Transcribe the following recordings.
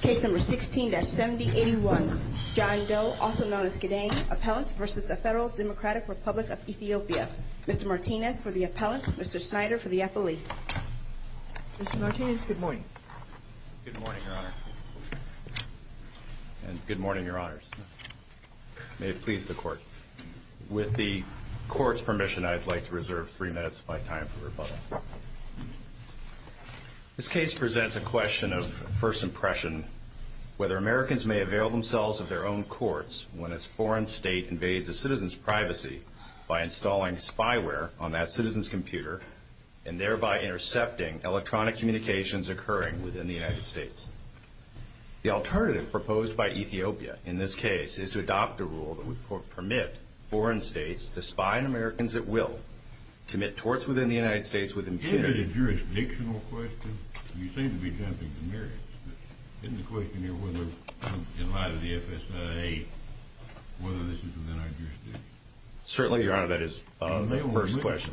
Case number 16-7081. John Doe, also known as Gedang, Appellant v. Federal Democratic Republic of Ethiopia. Mr. Martinez for the Appellant. Mr. Snyder for the Appellee. Mr. Martinez, good morning. Good morning, Your Honor. And good morning, Your Honors. May it please the Court. With the Court's permission, I'd like to reserve three minutes of my time for rebuttal. This case presents a question of first impression, whether Americans may avail themselves of their own courts when a foreign state invades a citizen's privacy by installing spyware on that citizen's computer and thereby intercepting electronic communications occurring within the United States. The alternative proposed by Ethiopia in this case is to adopt a rule that would permit foreign states to spy on Americans at will, commit torts within the United States with impunity. Isn't it a jurisdictional question? You seem to be jumping to merits, but isn't the question here whether, in light of the FSA, whether this is within our jurisdiction? Certainly, Your Honor, that is the first question.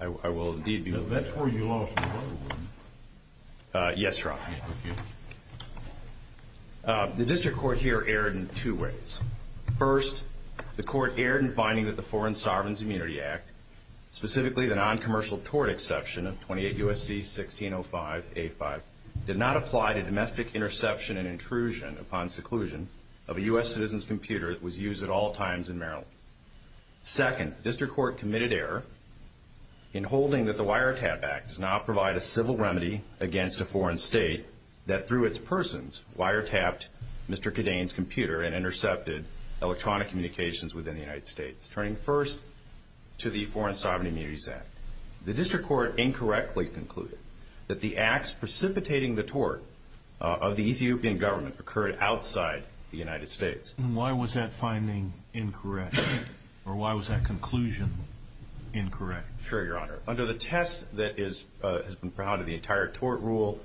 I will indeed be looking at that. That's where you lost the other one. Yes, Your Honor. The District Court here erred in two ways. First, the Court erred in finding that the Foreign Sovereign's Immunity Act, specifically the noncommercial tort exception of 28 U.S.C. 1605-85, did not apply to domestic interception and intrusion upon seclusion of a U.S. citizen's computer that was used at all times in Maryland. Second, the District Court committed error in holding that the Wiretap Act does not provide a civil remedy against a foreign state that, through its persons, wiretapped Mr. Kadain's computer and intercepted electronic communications within the United States, turning first to the Foreign Sovereign's Immunity Act. The District Court incorrectly concluded that the acts precipitating the tort of the Ethiopian government occurred outside the United States. Why was that finding incorrect? Or why was that conclusion incorrect? Sure, Your Honor. Under the test that has been proud of the entire tort rule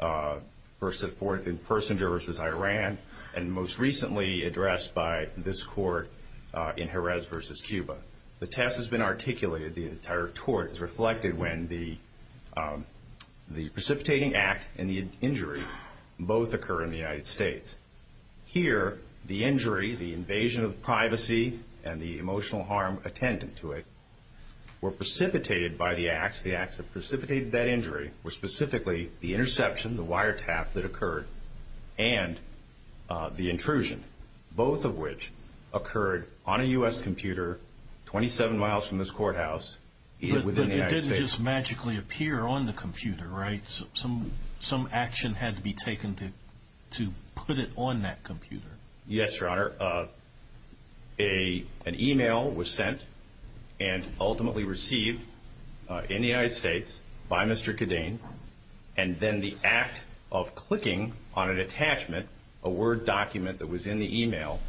in Persinger v. Iran, and most recently addressed by this Court in Jerez v. Cuba, the test has been articulated, the entire tort, as reflected when the precipitating act and the injury both occur in the United States. Here, the injury, the invasion of privacy, and the emotional harm attendant to it, were precipitated by the acts. The acts that precipitated that injury were specifically the interception, the wiretap that occurred, and the intrusion, both of which occurred on a U.S. computer 27 miles from this courthouse within the United States. But it didn't just magically appear on the computer, right? Some action had to be taken to put it on that computer. Yes, Your Honor. An email was sent and ultimately received in the United States by Mr. Khadain, and then the act of clicking on an attachment, a Word document that was in the email,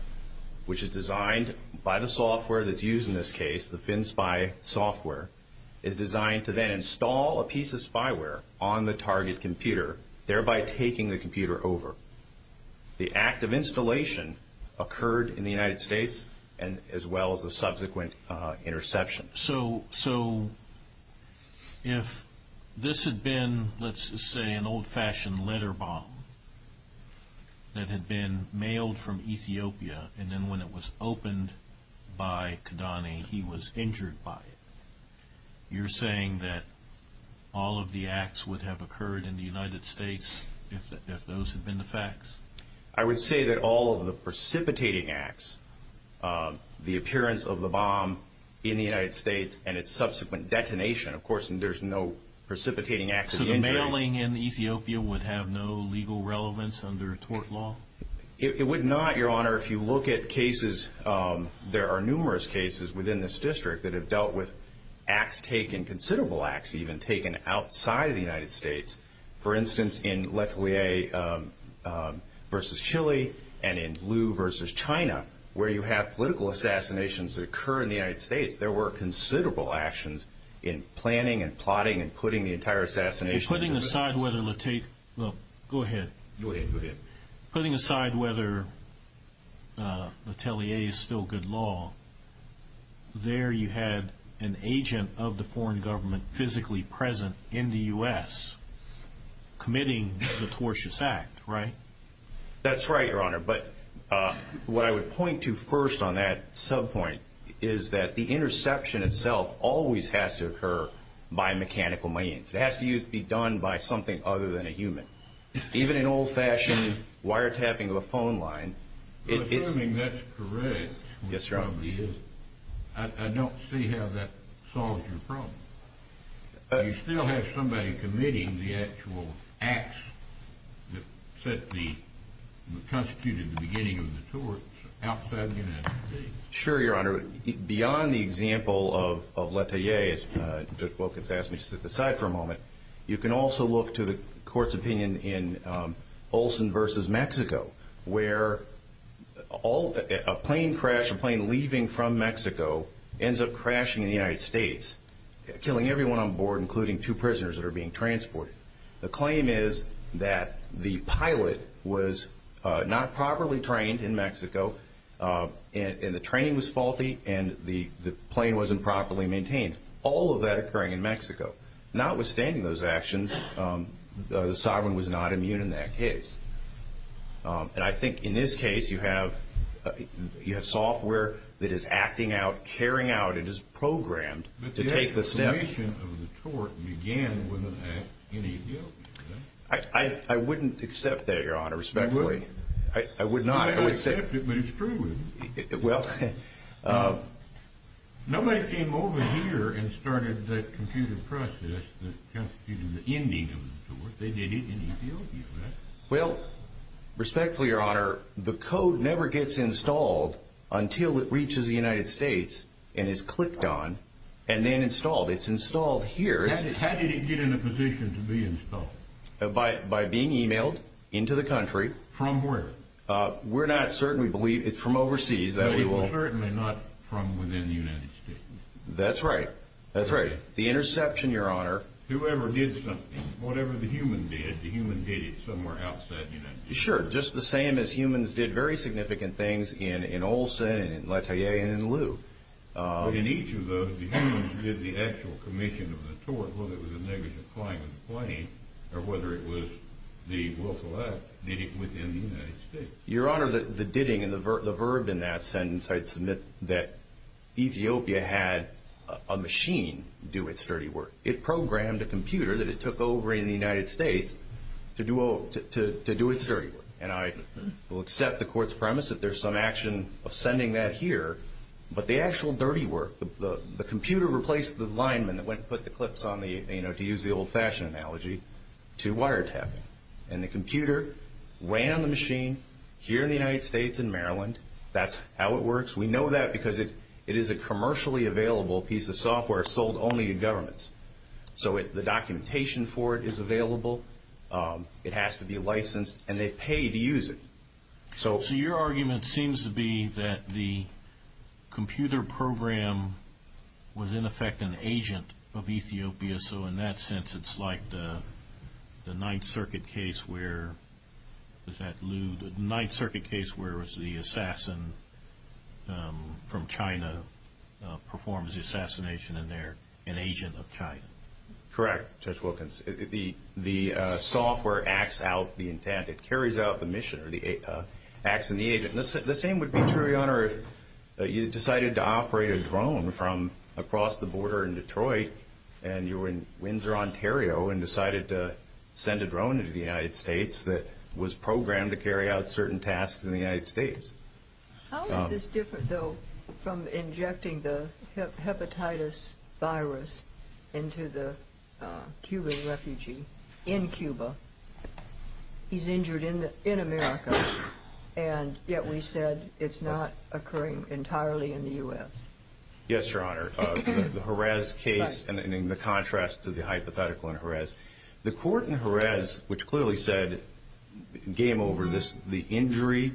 which is designed by the software that's used in this case, the FinSpy software, is designed to then install a piece of spyware on the target computer, thereby taking the computer over. The act of installation occurred in the United States, as well as the subsequent interception. So if this had been, let's just say, an old-fashioned letter bomb that had been mailed from Ethiopia, and then when it was opened by Khadain, he was injured by it, you're saying that all of the acts would have occurred in the United States if those had been the facts? I would say that all of the precipitating acts, the appearance of the bomb in the United States, and its subsequent detonation, of course, and there's no precipitating acts of the injury. So the mailing in Ethiopia would have no legal relevance under tort law? It would not, Your Honor. Your Honor, if you look at cases, there are numerous cases within this district that have dealt with acts taken, considerable acts even, taken outside of the United States. For instance, in Letelier v. Chile, and in Liu v. China, where you have political assassinations that occur in the United States, there were considerable actions in planning and plotting and putting the entire assassination... Well, go ahead. Go ahead. Putting aside whether Letelier is still good law, there you had an agent of the foreign government physically present in the U.S. committing the tortious act, right? That's right, Your Honor. But what I would point to first on that sub-point is that the interception itself always has to occur by mechanical means. It has to be done by something other than a human. Even an old-fashioned wiretapping of a phone line, it's... You're assuming that's correct. Yes, Your Honor. I don't see how that solves your problem. Do you still have somebody committing the actual acts that constituted the beginning of the torts outside of the United States? Sure, Your Honor. Beyond the example of Letelier, as Judge Wilkins asked me to set aside for a moment, you can also look to the court's opinion in Olsen v. Mexico, where a plane crash, a plane leaving from Mexico, ends up crashing in the United States, killing everyone on board, including two prisoners that are being transported. The claim is that the pilot was not properly trained in Mexico, and the training was faulty, and the plane wasn't properly maintained. All of that occurring in Mexico. Notwithstanding those actions, the sovereign was not immune in that case. And I think in this case, you have software that is acting out, carrying out, it is programmed to take the step... I wouldn't accept that, Your Honor, respectfully. You wouldn't? I would not. I would accept it, but it's proven. Well... Nobody came over here and started the computer process that constituted the ending of the torts. They did it in Ethiopia, right? Well, respectfully, Your Honor, the code never gets installed until it reaches the United States and is clicked on, and then installed. It's installed here. How did it get in a position to be installed? By being emailed into the country. From where? We're not certain. We believe it's from overseas. No, it was certainly not from within the United States. That's right. That's right. The interception, Your Honor... Whoever did something, whatever the human did, the human did it somewhere outside the United States. Sure, just the same as humans did very significant things in Olson, and in LaToya, and in Loo. In each of those, the humans did the actual commission of the tort, whether it was a negligent flying of the plane, or whether it was the willful act. They did it within the United States. Your Honor, the ditting and the verb in that sentence, I'd submit that Ethiopia had a machine do its dirty work. It programmed a computer that it took over in the United States to do its dirty work. I will accept the court's premise that there's some action of sending that here, but the actual dirty work, the computer replaced the lineman that went and put the clips on the, to use the old-fashioned analogy, to wiretapping. The computer ran on the machine here in the United States, in Maryland. That's how it works. We know that because it is a commercially available piece of software sold only to governments. The documentation for it is available. It has to be licensed, and they pay to use it. So your argument seems to be that the computer program was, in effect, an agent of Ethiopia. So in that sense, it's like the Ninth Circuit case where, was that Liu? The Ninth Circuit case where it was the assassin from China performs the assassination, and they're an agent of China. Correct, Judge Wilkins. The software acts out the intent. It carries out the mission, or acts in the agent. The same would be true, Your Honor, if you decided to operate a drone from across the border in Detroit, and you were in Windsor, Ontario, and decided to send a drone into the United States that was programmed to carry out certain tasks in the United States. How is this different, though, from injecting the hepatitis virus into the Cuban refugee in Cuba? He's injured in America, and yet we said it's not occurring entirely in the U.S. Yes, Your Honor. The Jerez case, and in the contrast to the hypothetical in Jerez, the court in Jerez, which clearly said, game over, the injury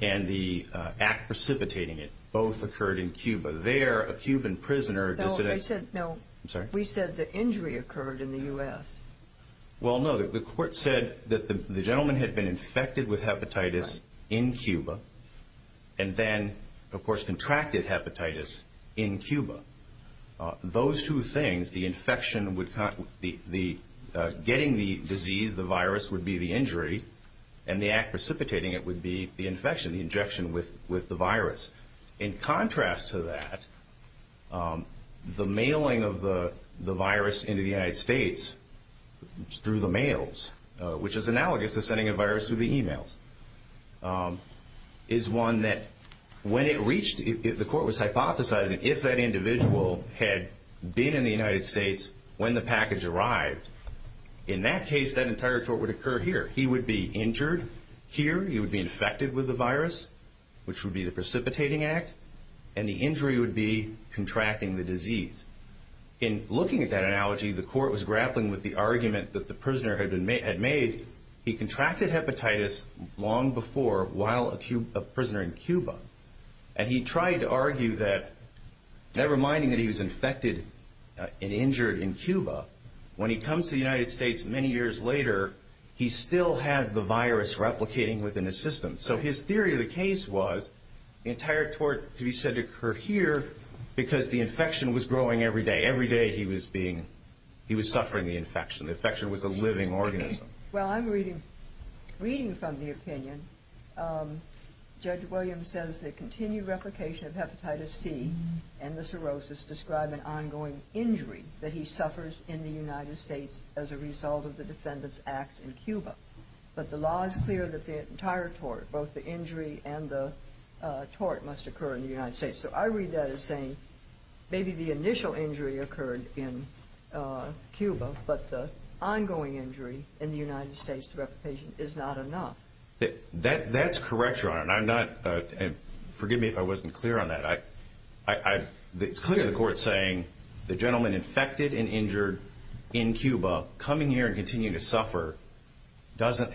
and the act precipitating it both occurred in Cuba. There, a Cuban prisoner- No, I said- I'm sorry? We said the injury occurred in the U.S. Well, no. The court said that the gentleman had been infected with hepatitis in Cuba, and then, of course, contracted hepatitis in Cuba. Those two things, getting the disease, the virus, would be the injury, and the act precipitating it would be the infection, the injection with the virus. In contrast to that, the mailing of the virus into the United States through the mails, which is analogous to sending a virus through the e-mails, is one that, when it reached- the court was hypothesizing if that individual had been in the United States when the package arrived, in that case, that entire tort would occur here. He would be injured here. He would be infected with the virus, which would be the precipitating act, and the injury would be contracting the disease. In looking at that analogy, the court was grappling with the argument that the prisoner had made. He contracted hepatitis long before while a prisoner in Cuba, and he tried to argue that, never minding that he was infected and injured in Cuba, when he comes to the United States many years later, he still has the virus replicating within his system. So his theory of the case was the entire tort to be said to occur here because the infection was growing every day. Every day he was being-he was suffering the infection. The infection was a living organism. Well, I'm reading from the opinion. Judge Williams says the continued replication of hepatitis C and the cirrhosis describe an ongoing injury that he suffers in the United States as a result of the defendant's acts in Cuba. But the law is clear that the entire tort, both the injury and the tort, must occur in the United States. So I read that as saying maybe the initial injury occurred in Cuba, but the ongoing injury in the United States through replication is not enough. That's correct, Your Honor, and I'm not-forgive me if I wasn't clear on that. It's clear the court's saying the gentleman infected and injured in Cuba coming here and continuing to suffer doesn't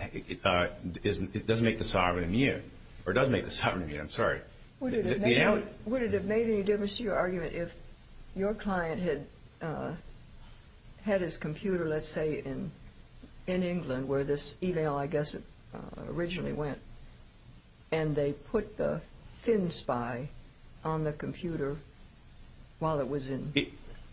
make the sovereign immune, or does make the sovereign immune. Would it have made any difference to your argument if your client had his computer, let's say, in England where this e-mail, I guess, originally went, and they put the thin spy on the computer while it was in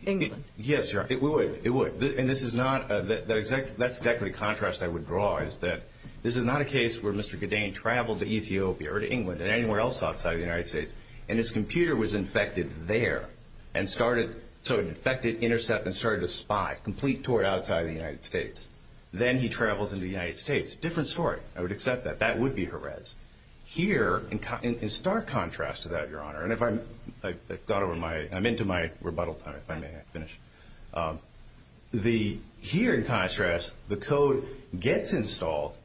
England? Yes, Your Honor, it would. And this is not-that's exactly the contrast I would draw, is that this is not a case where Mr. Gaddain traveled to Ethiopia or to England or anywhere else outside of the United States and his computer was infected there and started-so it infected, intercepted, and started to spy, complete tort outside of the United States. Then he travels into the United States. Different story. I would accept that. That would be Jerez. Here, in stark contrast to that, Your Honor, and if I'm-I've gone over my-I'm into my rebuttal time, if I may finish. The-here, in contrast, the code gets installed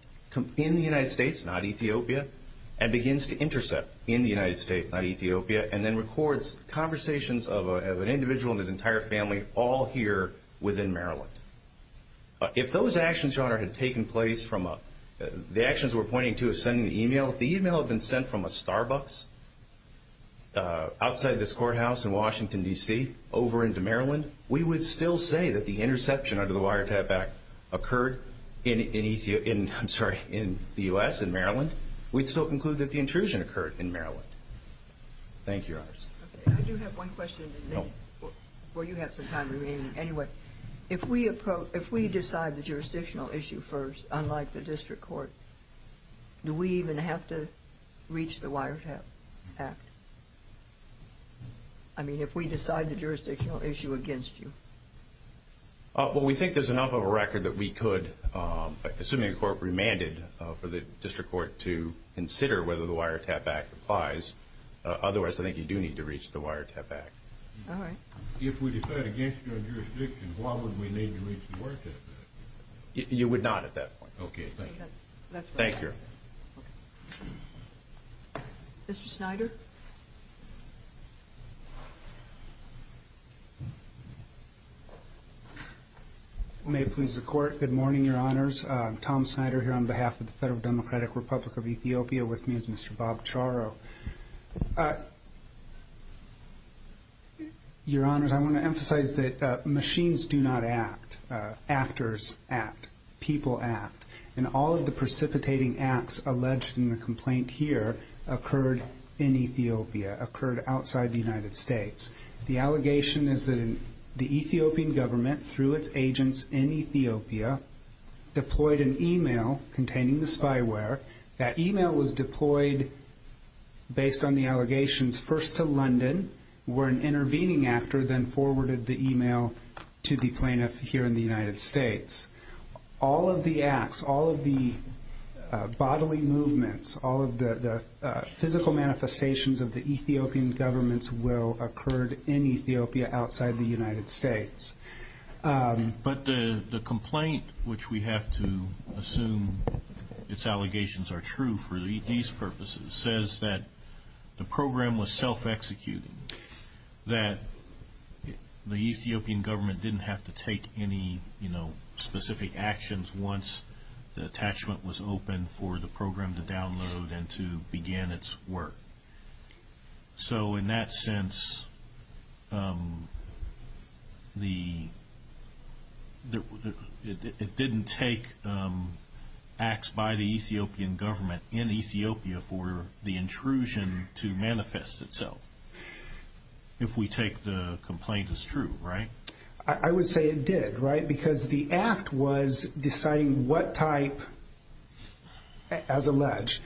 in the United States, not Ethiopia, and begins to intercept in the United States, not Ethiopia, and then records conversations of an individual and his entire family all here within Maryland. If those actions, Your Honor, had taken place from a-the actions we're pointing to as sending the e-mail, if the e-mail had been sent from a Starbucks outside this courthouse in Washington, D.C., over into Maryland, we would still say that the interception under the wiretap act occurred in Ethiopia-I'm sorry, in the U.S., in Maryland. We'd still conclude that the intrusion occurred in Maryland. Thank you, Your Honors. Okay. I do have one question. No. Before you have some time remaining. Anyway, if we approach-if we decide the jurisdictional issue first, unlike the district court, do we even have to reach the wiretap act? I mean, if we decide the jurisdictional issue against you. Well, we think there's enough of a record that we could, assuming the court remanded for the district court to consider whether the wiretap act applies. Otherwise, I think you do need to reach the wiretap act. All right. If we decide against your jurisdiction, why would we need to reach the wiretap act? You would not at that point. Okay. Thank you. Thank you. Mr. Snyder. May it please the Court, good morning, Your Honors. Tom Snyder here on behalf of the Federal Democratic Republic of Ethiopia. With me is Mr. Bob Charo. Your Honors, I want to emphasize that machines do not act. Actors act. People act. And all of the precipitating acts alleged in the complaint here occurred in Ethiopia, occurred outside the United States. The allegation is that the Ethiopian government, through its agents in Ethiopia, deployed an email containing the spyware. That email was deployed based on the allegations first to London, where an intervening actor then forwarded the email to the plaintiff here in the United States. All of the acts, all of the bodily movements, all of the physical manifestations of the Ethiopian government's will occurred in Ethiopia, outside the United States. But the complaint, which we have to assume its allegations are true for these purposes, says that the program was self-executed, that the Ethiopian government didn't have to take any, you know, specific actions once the attachment was open for the program to download and to begin its work. So in that sense, it didn't take acts by the Ethiopian government in Ethiopia for the intrusion to manifest itself, if we take the complaint as true, right? I would say it did, right, because the act was deciding what type, as alleged,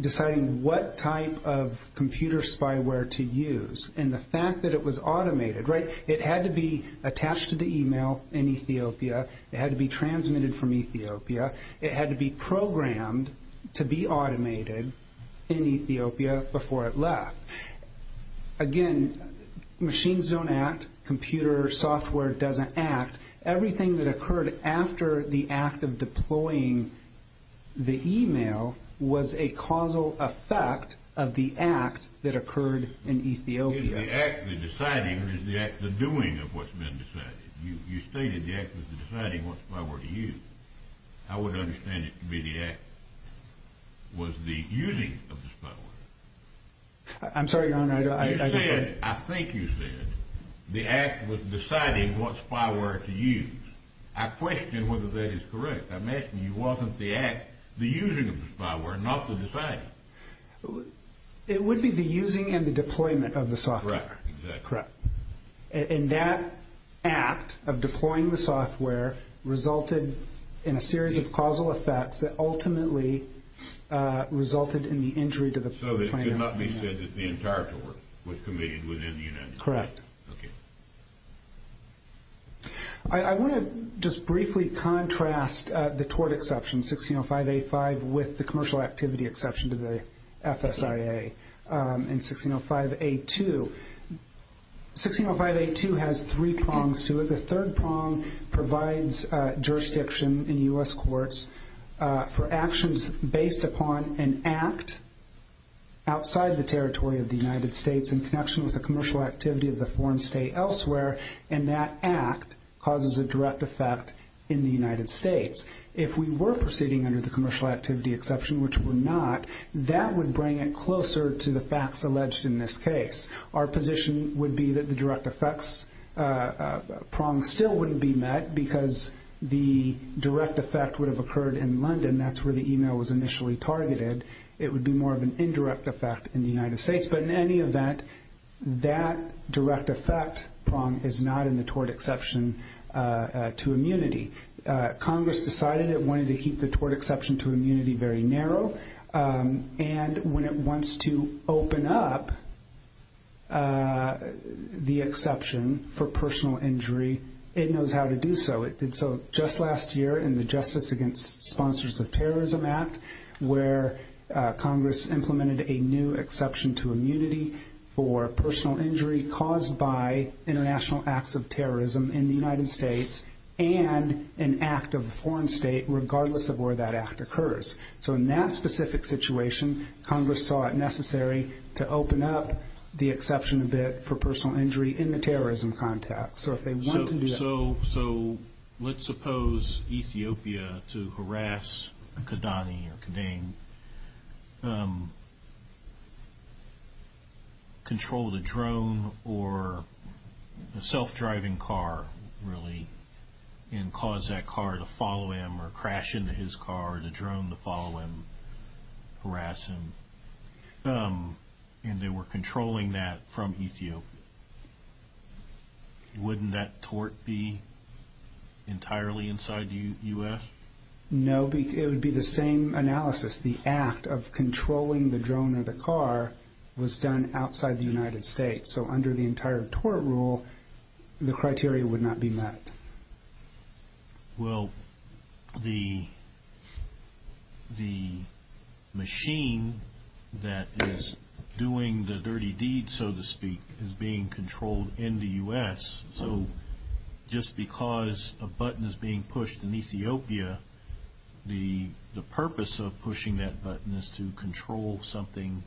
deciding what type of computer spyware to use, and the fact that it was automated, right? It had to be attached to the email in Ethiopia. It had to be transmitted from Ethiopia. It had to be programmed to be automated in Ethiopia before it left. Again, machines don't act. Computer software doesn't act. Everything that occurred after the act of deploying the email was a causal effect of the act that occurred in Ethiopia. Is the act the deciding, or is the act the doing of what's been decided? You stated the act was the deciding what spyware to use. I would understand it to be the act was the using of the spyware. I'm sorry, Your Honor. You said, I think you said, the act was deciding what spyware to use. I question whether that is correct. I'm asking you, wasn't the act the using of the spyware, not the deciding? It would be the using and the deployment of the software. Right, exactly. Correct. And that act of deploying the software resulted in a series of causal effects that ultimately resulted in the injury to the plaintiff. It could not be said that the entire tort was committed within the United States. Correct. I want to just briefly contrast the tort exception, 1605A5, with the commercial activity exception to the FSIA in 1605A2. 1605A2 has three prongs to it. The third prong provides jurisdiction in U.S. courts for actions based upon an act outside the territory of the United States in connection with the commercial activity of the foreign state elsewhere, and that act causes a direct effect in the United States. If we were proceeding under the commercial activity exception, which we're not, that would bring it closer to the facts alleged in this case. Our position would be that the direct effects prongs still wouldn't be met because the direct effect would have occurred in London. That's where the email was initially targeted. It would be more of an indirect effect in the United States. But in any event, that direct effect prong is not in the tort exception to immunity. Congress decided it wanted to keep the tort exception to immunity very narrow, and when it wants to open up the exception for personal injury, it knows how to do so. It did so just last year in the Justice Against Sponsors of Terrorism Act where Congress implemented a new exception to immunity for personal injury caused by international acts of terrorism in the United States and an act of a foreign state regardless of where that act occurs. So in that specific situation, Congress saw it necessary to open up the exception a bit for personal injury in the terrorism context. So if they want to do that. So let's suppose Ethiopia, to harass Khadani or Khadang, controlled a drone or a self-driving car, really, and caused that car to follow him or crash into his car or the drone to follow him, harass him, and they were controlling that from Ethiopia. Wouldn't that tort be entirely inside the U.S.? No, it would be the same analysis. The act of controlling the drone or the car was done outside the United States. So under the entire tort rule, the criteria would not be met. Well, the machine that is doing the dirty deed, so to speak, is being controlled in the U.S. So just because a button is being pushed in Ethiopia, the purpose of pushing that button is to control something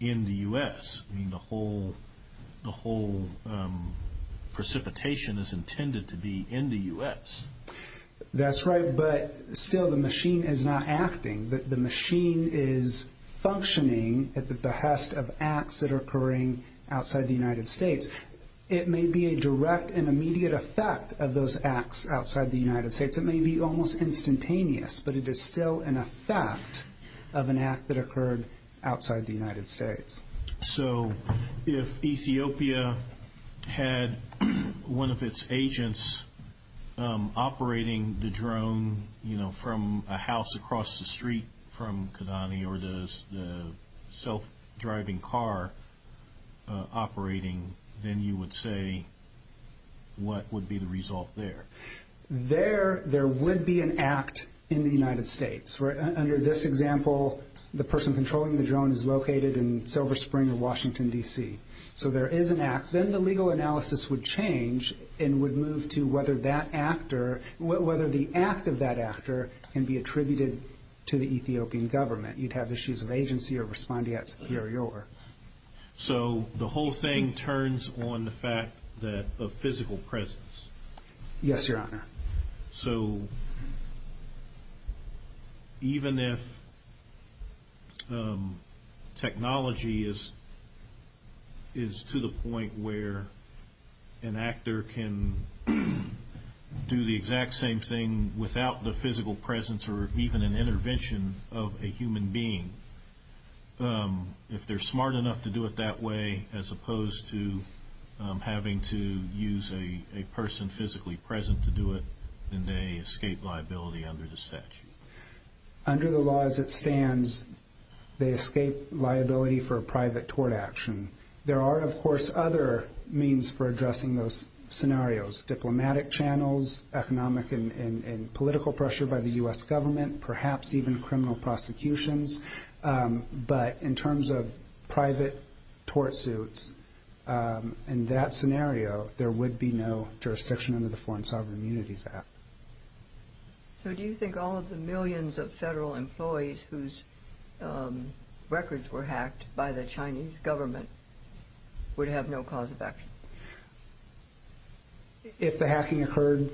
in the U.S. I mean, the whole precipitation is intended to be in the U.S. That's right, but still the machine is not acting. The machine is functioning at the behest of acts that are occurring outside the United States. It may be a direct and immediate effect of those acts outside the United States. It may be almost instantaneous, but it is still an effect of an act that occurred outside the United States. So if Ethiopia had one of its agents operating the drone from a house across the street from Kidani or the self-driving car operating, then you would say what would be the result there? There would be an act in the United States. Under this example, the person controlling the drone is located in Silver Spring in Washington, D.C. So there is an act. Then the legal analysis would change and would move to whether the act of that actor can be attributed to the Ethiopian government. You'd have issues of agency or respondeat superior. So the whole thing turns on the fact of physical presence. Yes, Your Honor. So even if technology is to the point where an actor can do the exact same thing without the physical presence or even an intervention of a human being, if they're smart enough to do it that way as opposed to having to use a person physically present to do it, then they escape liability under the statute. Under the law as it stands, they escape liability for private tort action. There are, of course, other means for addressing those scenarios, diplomatic channels, economic and political pressure by the U.S. government, perhaps even criminal prosecutions. But in terms of private tort suits, in that scenario, there would be no jurisdiction under the Foreign Sovereign Immunities Act. So do you think all of the millions of federal employees whose records were hacked by the Chinese government would have no cause of action? If the hacking occurred,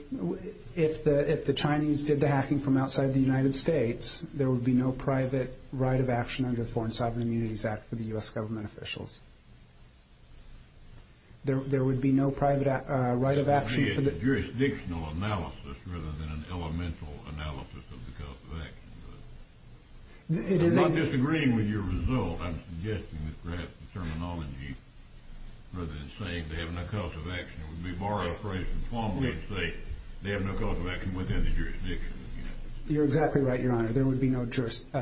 if the Chinese did the hacking from outside the United States, there would be no private right of action under the Foreign Sovereign Immunities Act for the U.S. government officials. There would be no private right of action. It's a jurisdictional analysis rather than an elemental analysis of the cause of action. I'm not disagreeing with your result. I'm suggesting that perhaps the terminology rather than saying they have no cause of action would be to borrow a phrase from Plummer and say they have no cause of action within the jurisdiction of the United States. You're exactly right, Your Honor. There would be no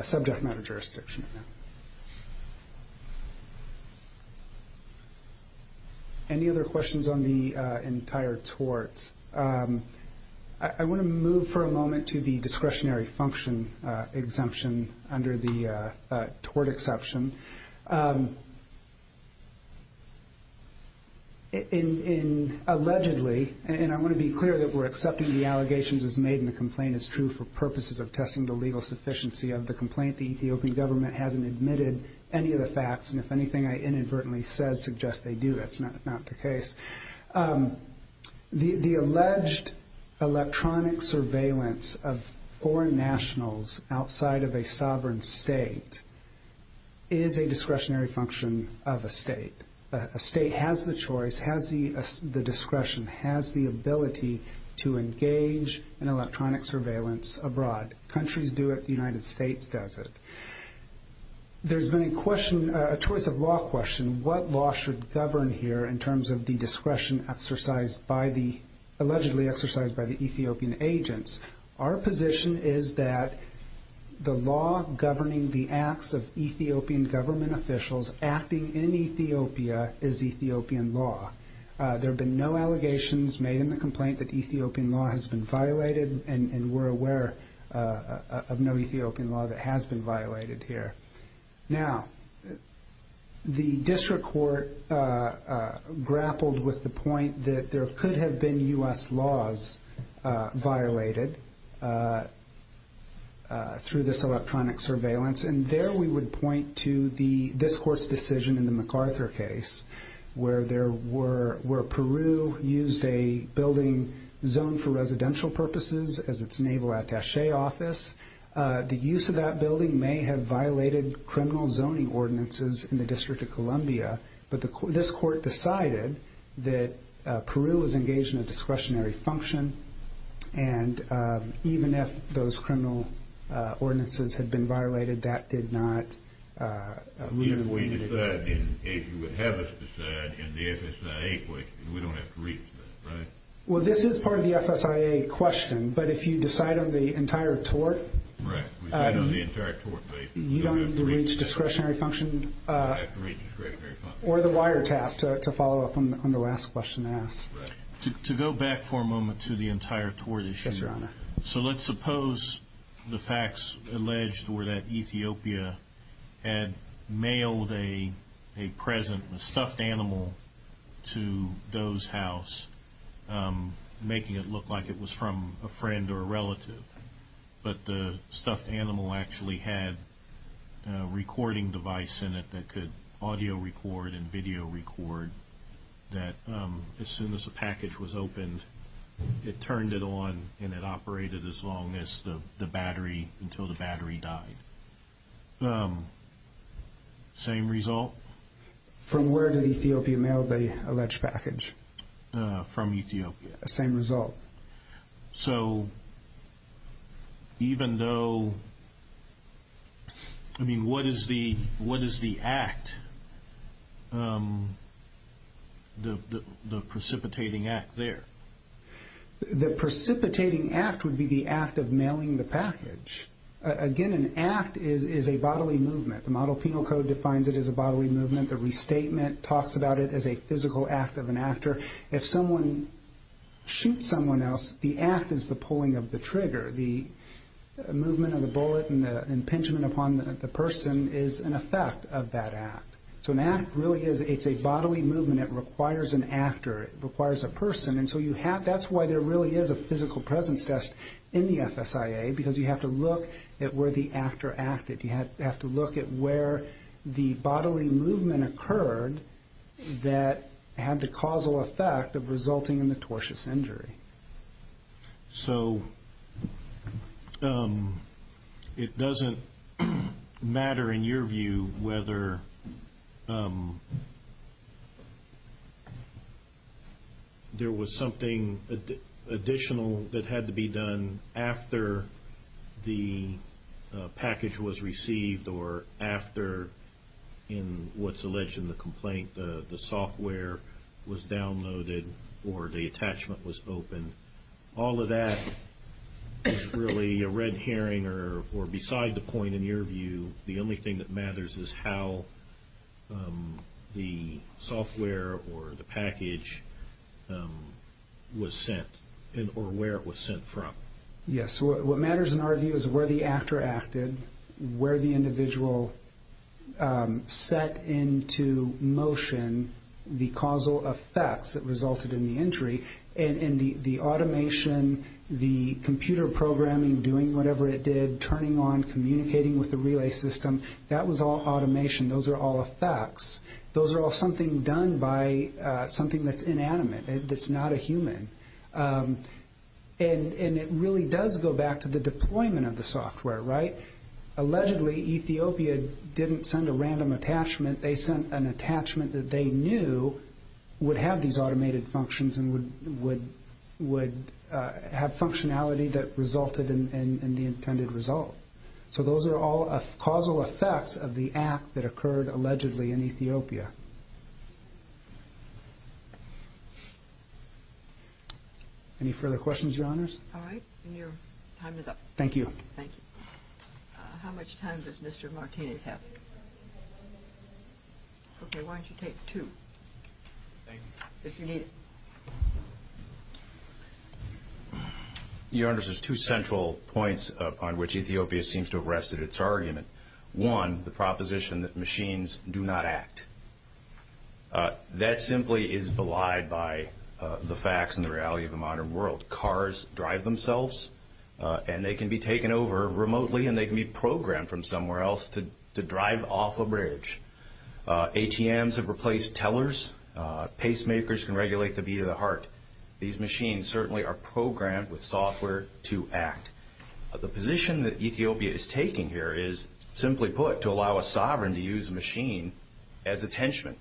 subject matter jurisdiction. Any other questions on the entire tort? I want to move for a moment to the discretionary function exemption under the tort exception. Allegedly, and I want to be clear that we're accepting the allegations as made and the complaint is true for purposes of testing the legal sufficiency of the complaint. The Ethiopian government hasn't admitted any of the facts, and if anything I inadvertently suggest they do, that's not the case. The alleged electronic surveillance of foreign nationals outside of a sovereign state is a discretionary function of a state. A state has the choice, has the discretion, has the ability to engage in electronic surveillance abroad. Countries do it. The United States does it. There's been a question, a choice of law question, what law should govern here in terms of the discretion exercised by the, allegedly exercised by the Ethiopian agents. Our position is that the law governing the acts of Ethiopian government officials acting in Ethiopia is Ethiopian law. There have been no allegations made in the complaint that Ethiopian law has been violated, and we're aware of no Ethiopian law that has been violated here. Now, the district court grappled with the point that there could have been U.S. laws violated through this electronic surveillance, and there we would point to this court's decision in the MacArthur case where Peru used a building zoned for residential purposes as its naval attache office. The use of that building may have violated criminal zoning ordinances in the District of Columbia, but this court decided that Peru was engaged in a discretionary function, and even if those criminal ordinances had been violated, that did not... If we decide, if you would have us decide in the FSIA question, we don't have to reach that, right? Well, this is part of the FSIA question, but if you decide on the entire tort... Right. We decide on the entire tort case. You don't have to reach discretionary function... We don't have to reach discretionary function. Or the wiretap, to follow up on the last question asked. Right. To go back for a moment to the entire tort issue... Yes, Your Honor. So let's suppose the facts alleged were that Ethiopia had mailed a present, a stuffed animal to Doe's house, making it look like it was from a friend or a relative, but the stuffed animal actually had a recording device in it that could audio record and video record that as soon as the package was opened, it turned it on and it operated as long as the battery, until the battery died. Same result? From where did Ethiopia mail the alleged package? From Ethiopia. Same result. So even though... I mean, what is the act, the precipitating act there? The precipitating act would be the act of mailing the package. Again, an act is a bodily movement. The model penal code defines it as a bodily movement. The restatement talks about it as a physical act of an actor. If someone shoots someone else, the act is the pulling of the trigger. The movement of the bullet and the impingement upon the person is an effect of that act. So an act really is a bodily movement. It requires an actor. It requires a person. And so that's why there really is a physical presence test in the FSIA, because you have to look at where the actor acted. You have to look at where the bodily movement occurred that had the causal effect of resulting in the tortious injury. So it doesn't matter in your view whether there was something additional that had to be done after the package was received or after, in what's alleged in the complaint, the software was downloaded or the attachment was opened. All of that is really a red herring or beside the point in your view, the only thing that matters is how the software or the package was sent or where it was sent from. Yes. What matters in our view is where the actor acted, where the individual set into motion the causal effects that resulted in the injury. And the automation, the computer programming, doing whatever it did, turning on, communicating with the relay system, that was all automation. Those are all effects. Those are all something done by something that's inanimate, that's not a human. And it really does go back to the deployment of the software. Allegedly, Ethiopia didn't send a random attachment. They sent an attachment that they knew would have these automated functions and would have functionality that resulted in the intended result. So those are all causal effects of the act that occurred allegedly in Ethiopia. Any further questions, Your Honors? All right. Your time is up. Thank you. Thank you. How much time does Mr. Martinez have? Okay, why don't you take two if you need it. Your Honors, there's two central points upon which Ethiopia seems to have rested its argument. One, the proposition that machines do not act. That simply is belied by the facts and the reality of the modern world. Cars drive themselves, and they can be taken over remotely, and they can be programmed from somewhere else to drive off a bridge. ATMs have replaced tellers. Pacemakers can regulate the beat of the heart. These machines certainly are programmed with software to act. The position that Ethiopia is taking here is, simply put, to allow a sovereign to use a machine as attachment.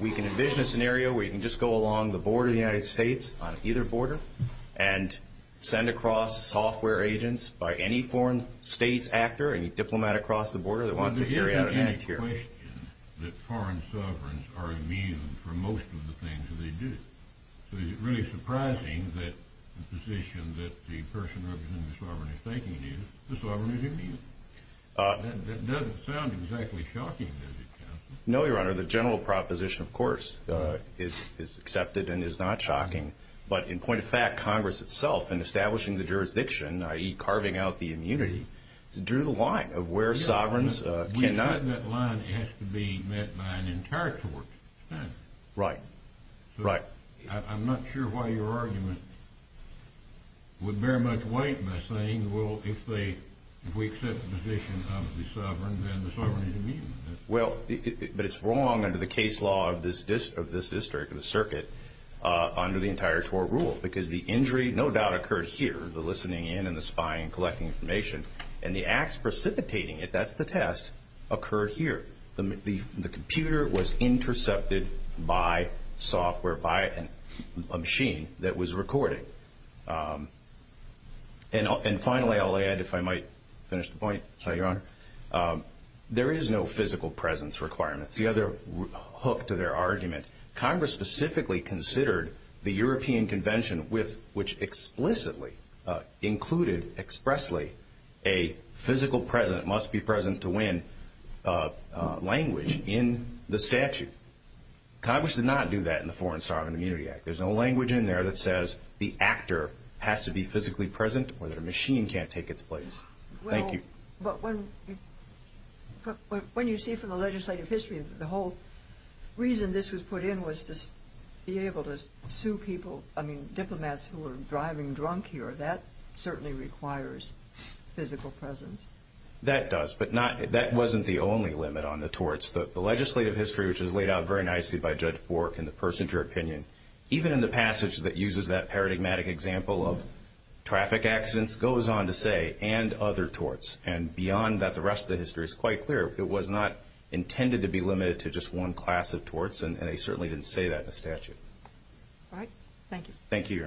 We can envision a scenario where you can just go along the border of the United States, on either border, and send across software agents by any foreign states actor, any diplomat across the border that wants to carry out an act here. There's no question that foreign sovereigns are immune from most of the things that they do. So is it really surprising that the position that the person representing the sovereign is taking is, the sovereign is immune? That doesn't sound exactly shocking, does it, Counselor? No, Your Honor. The general proposition, of course, is accepted and is not shocking. But in point of fact, Congress itself, in establishing the jurisdiction, i.e., carving out the immunity, drew the line of where sovereigns cannot. That line has to be met by an entire court. Right. Right. I'm not sure why your argument would bear much weight by saying, well, if we accept the position of the sovereign, then the sovereign is immune. Well, but it's wrong under the case law of this district, of the circuit, under the entire court rule, because the injury no doubt occurred here, the listening in and the spying and collecting information, and the acts precipitating it, that's the test, occurred here. The computer was intercepted by software, by a machine that was recording. And finally, I'll add, if I might finish the point, Your Honor, there is no physical presence requirement. The other hook to their argument, Congress specifically considered the European Convention, which explicitly included expressly a physical presence, must be present to win, language in the statute. Congress did not do that in the Foreign Sovereign Immunity Act. There's no language in there that says the actor has to be physically present or that a machine can't take its place. Thank you. Well, but when you see from the legislative history, the whole reason this was put in was to be able to sue people, I mean diplomats who were driving drunk here. That certainly requires physical presence. That does. But that wasn't the only limit on the torts. The legislative history, which was laid out very nicely by Judge Bork and the person to her opinion, even in the passage that uses that paradigmatic example of traffic accidents, goes on to say, and other torts. And beyond that, the rest of the history is quite clear. It was not intended to be limited to just one class of torts, and they certainly didn't say that in the statute. All right. Thank you. Thank you, Your Honors.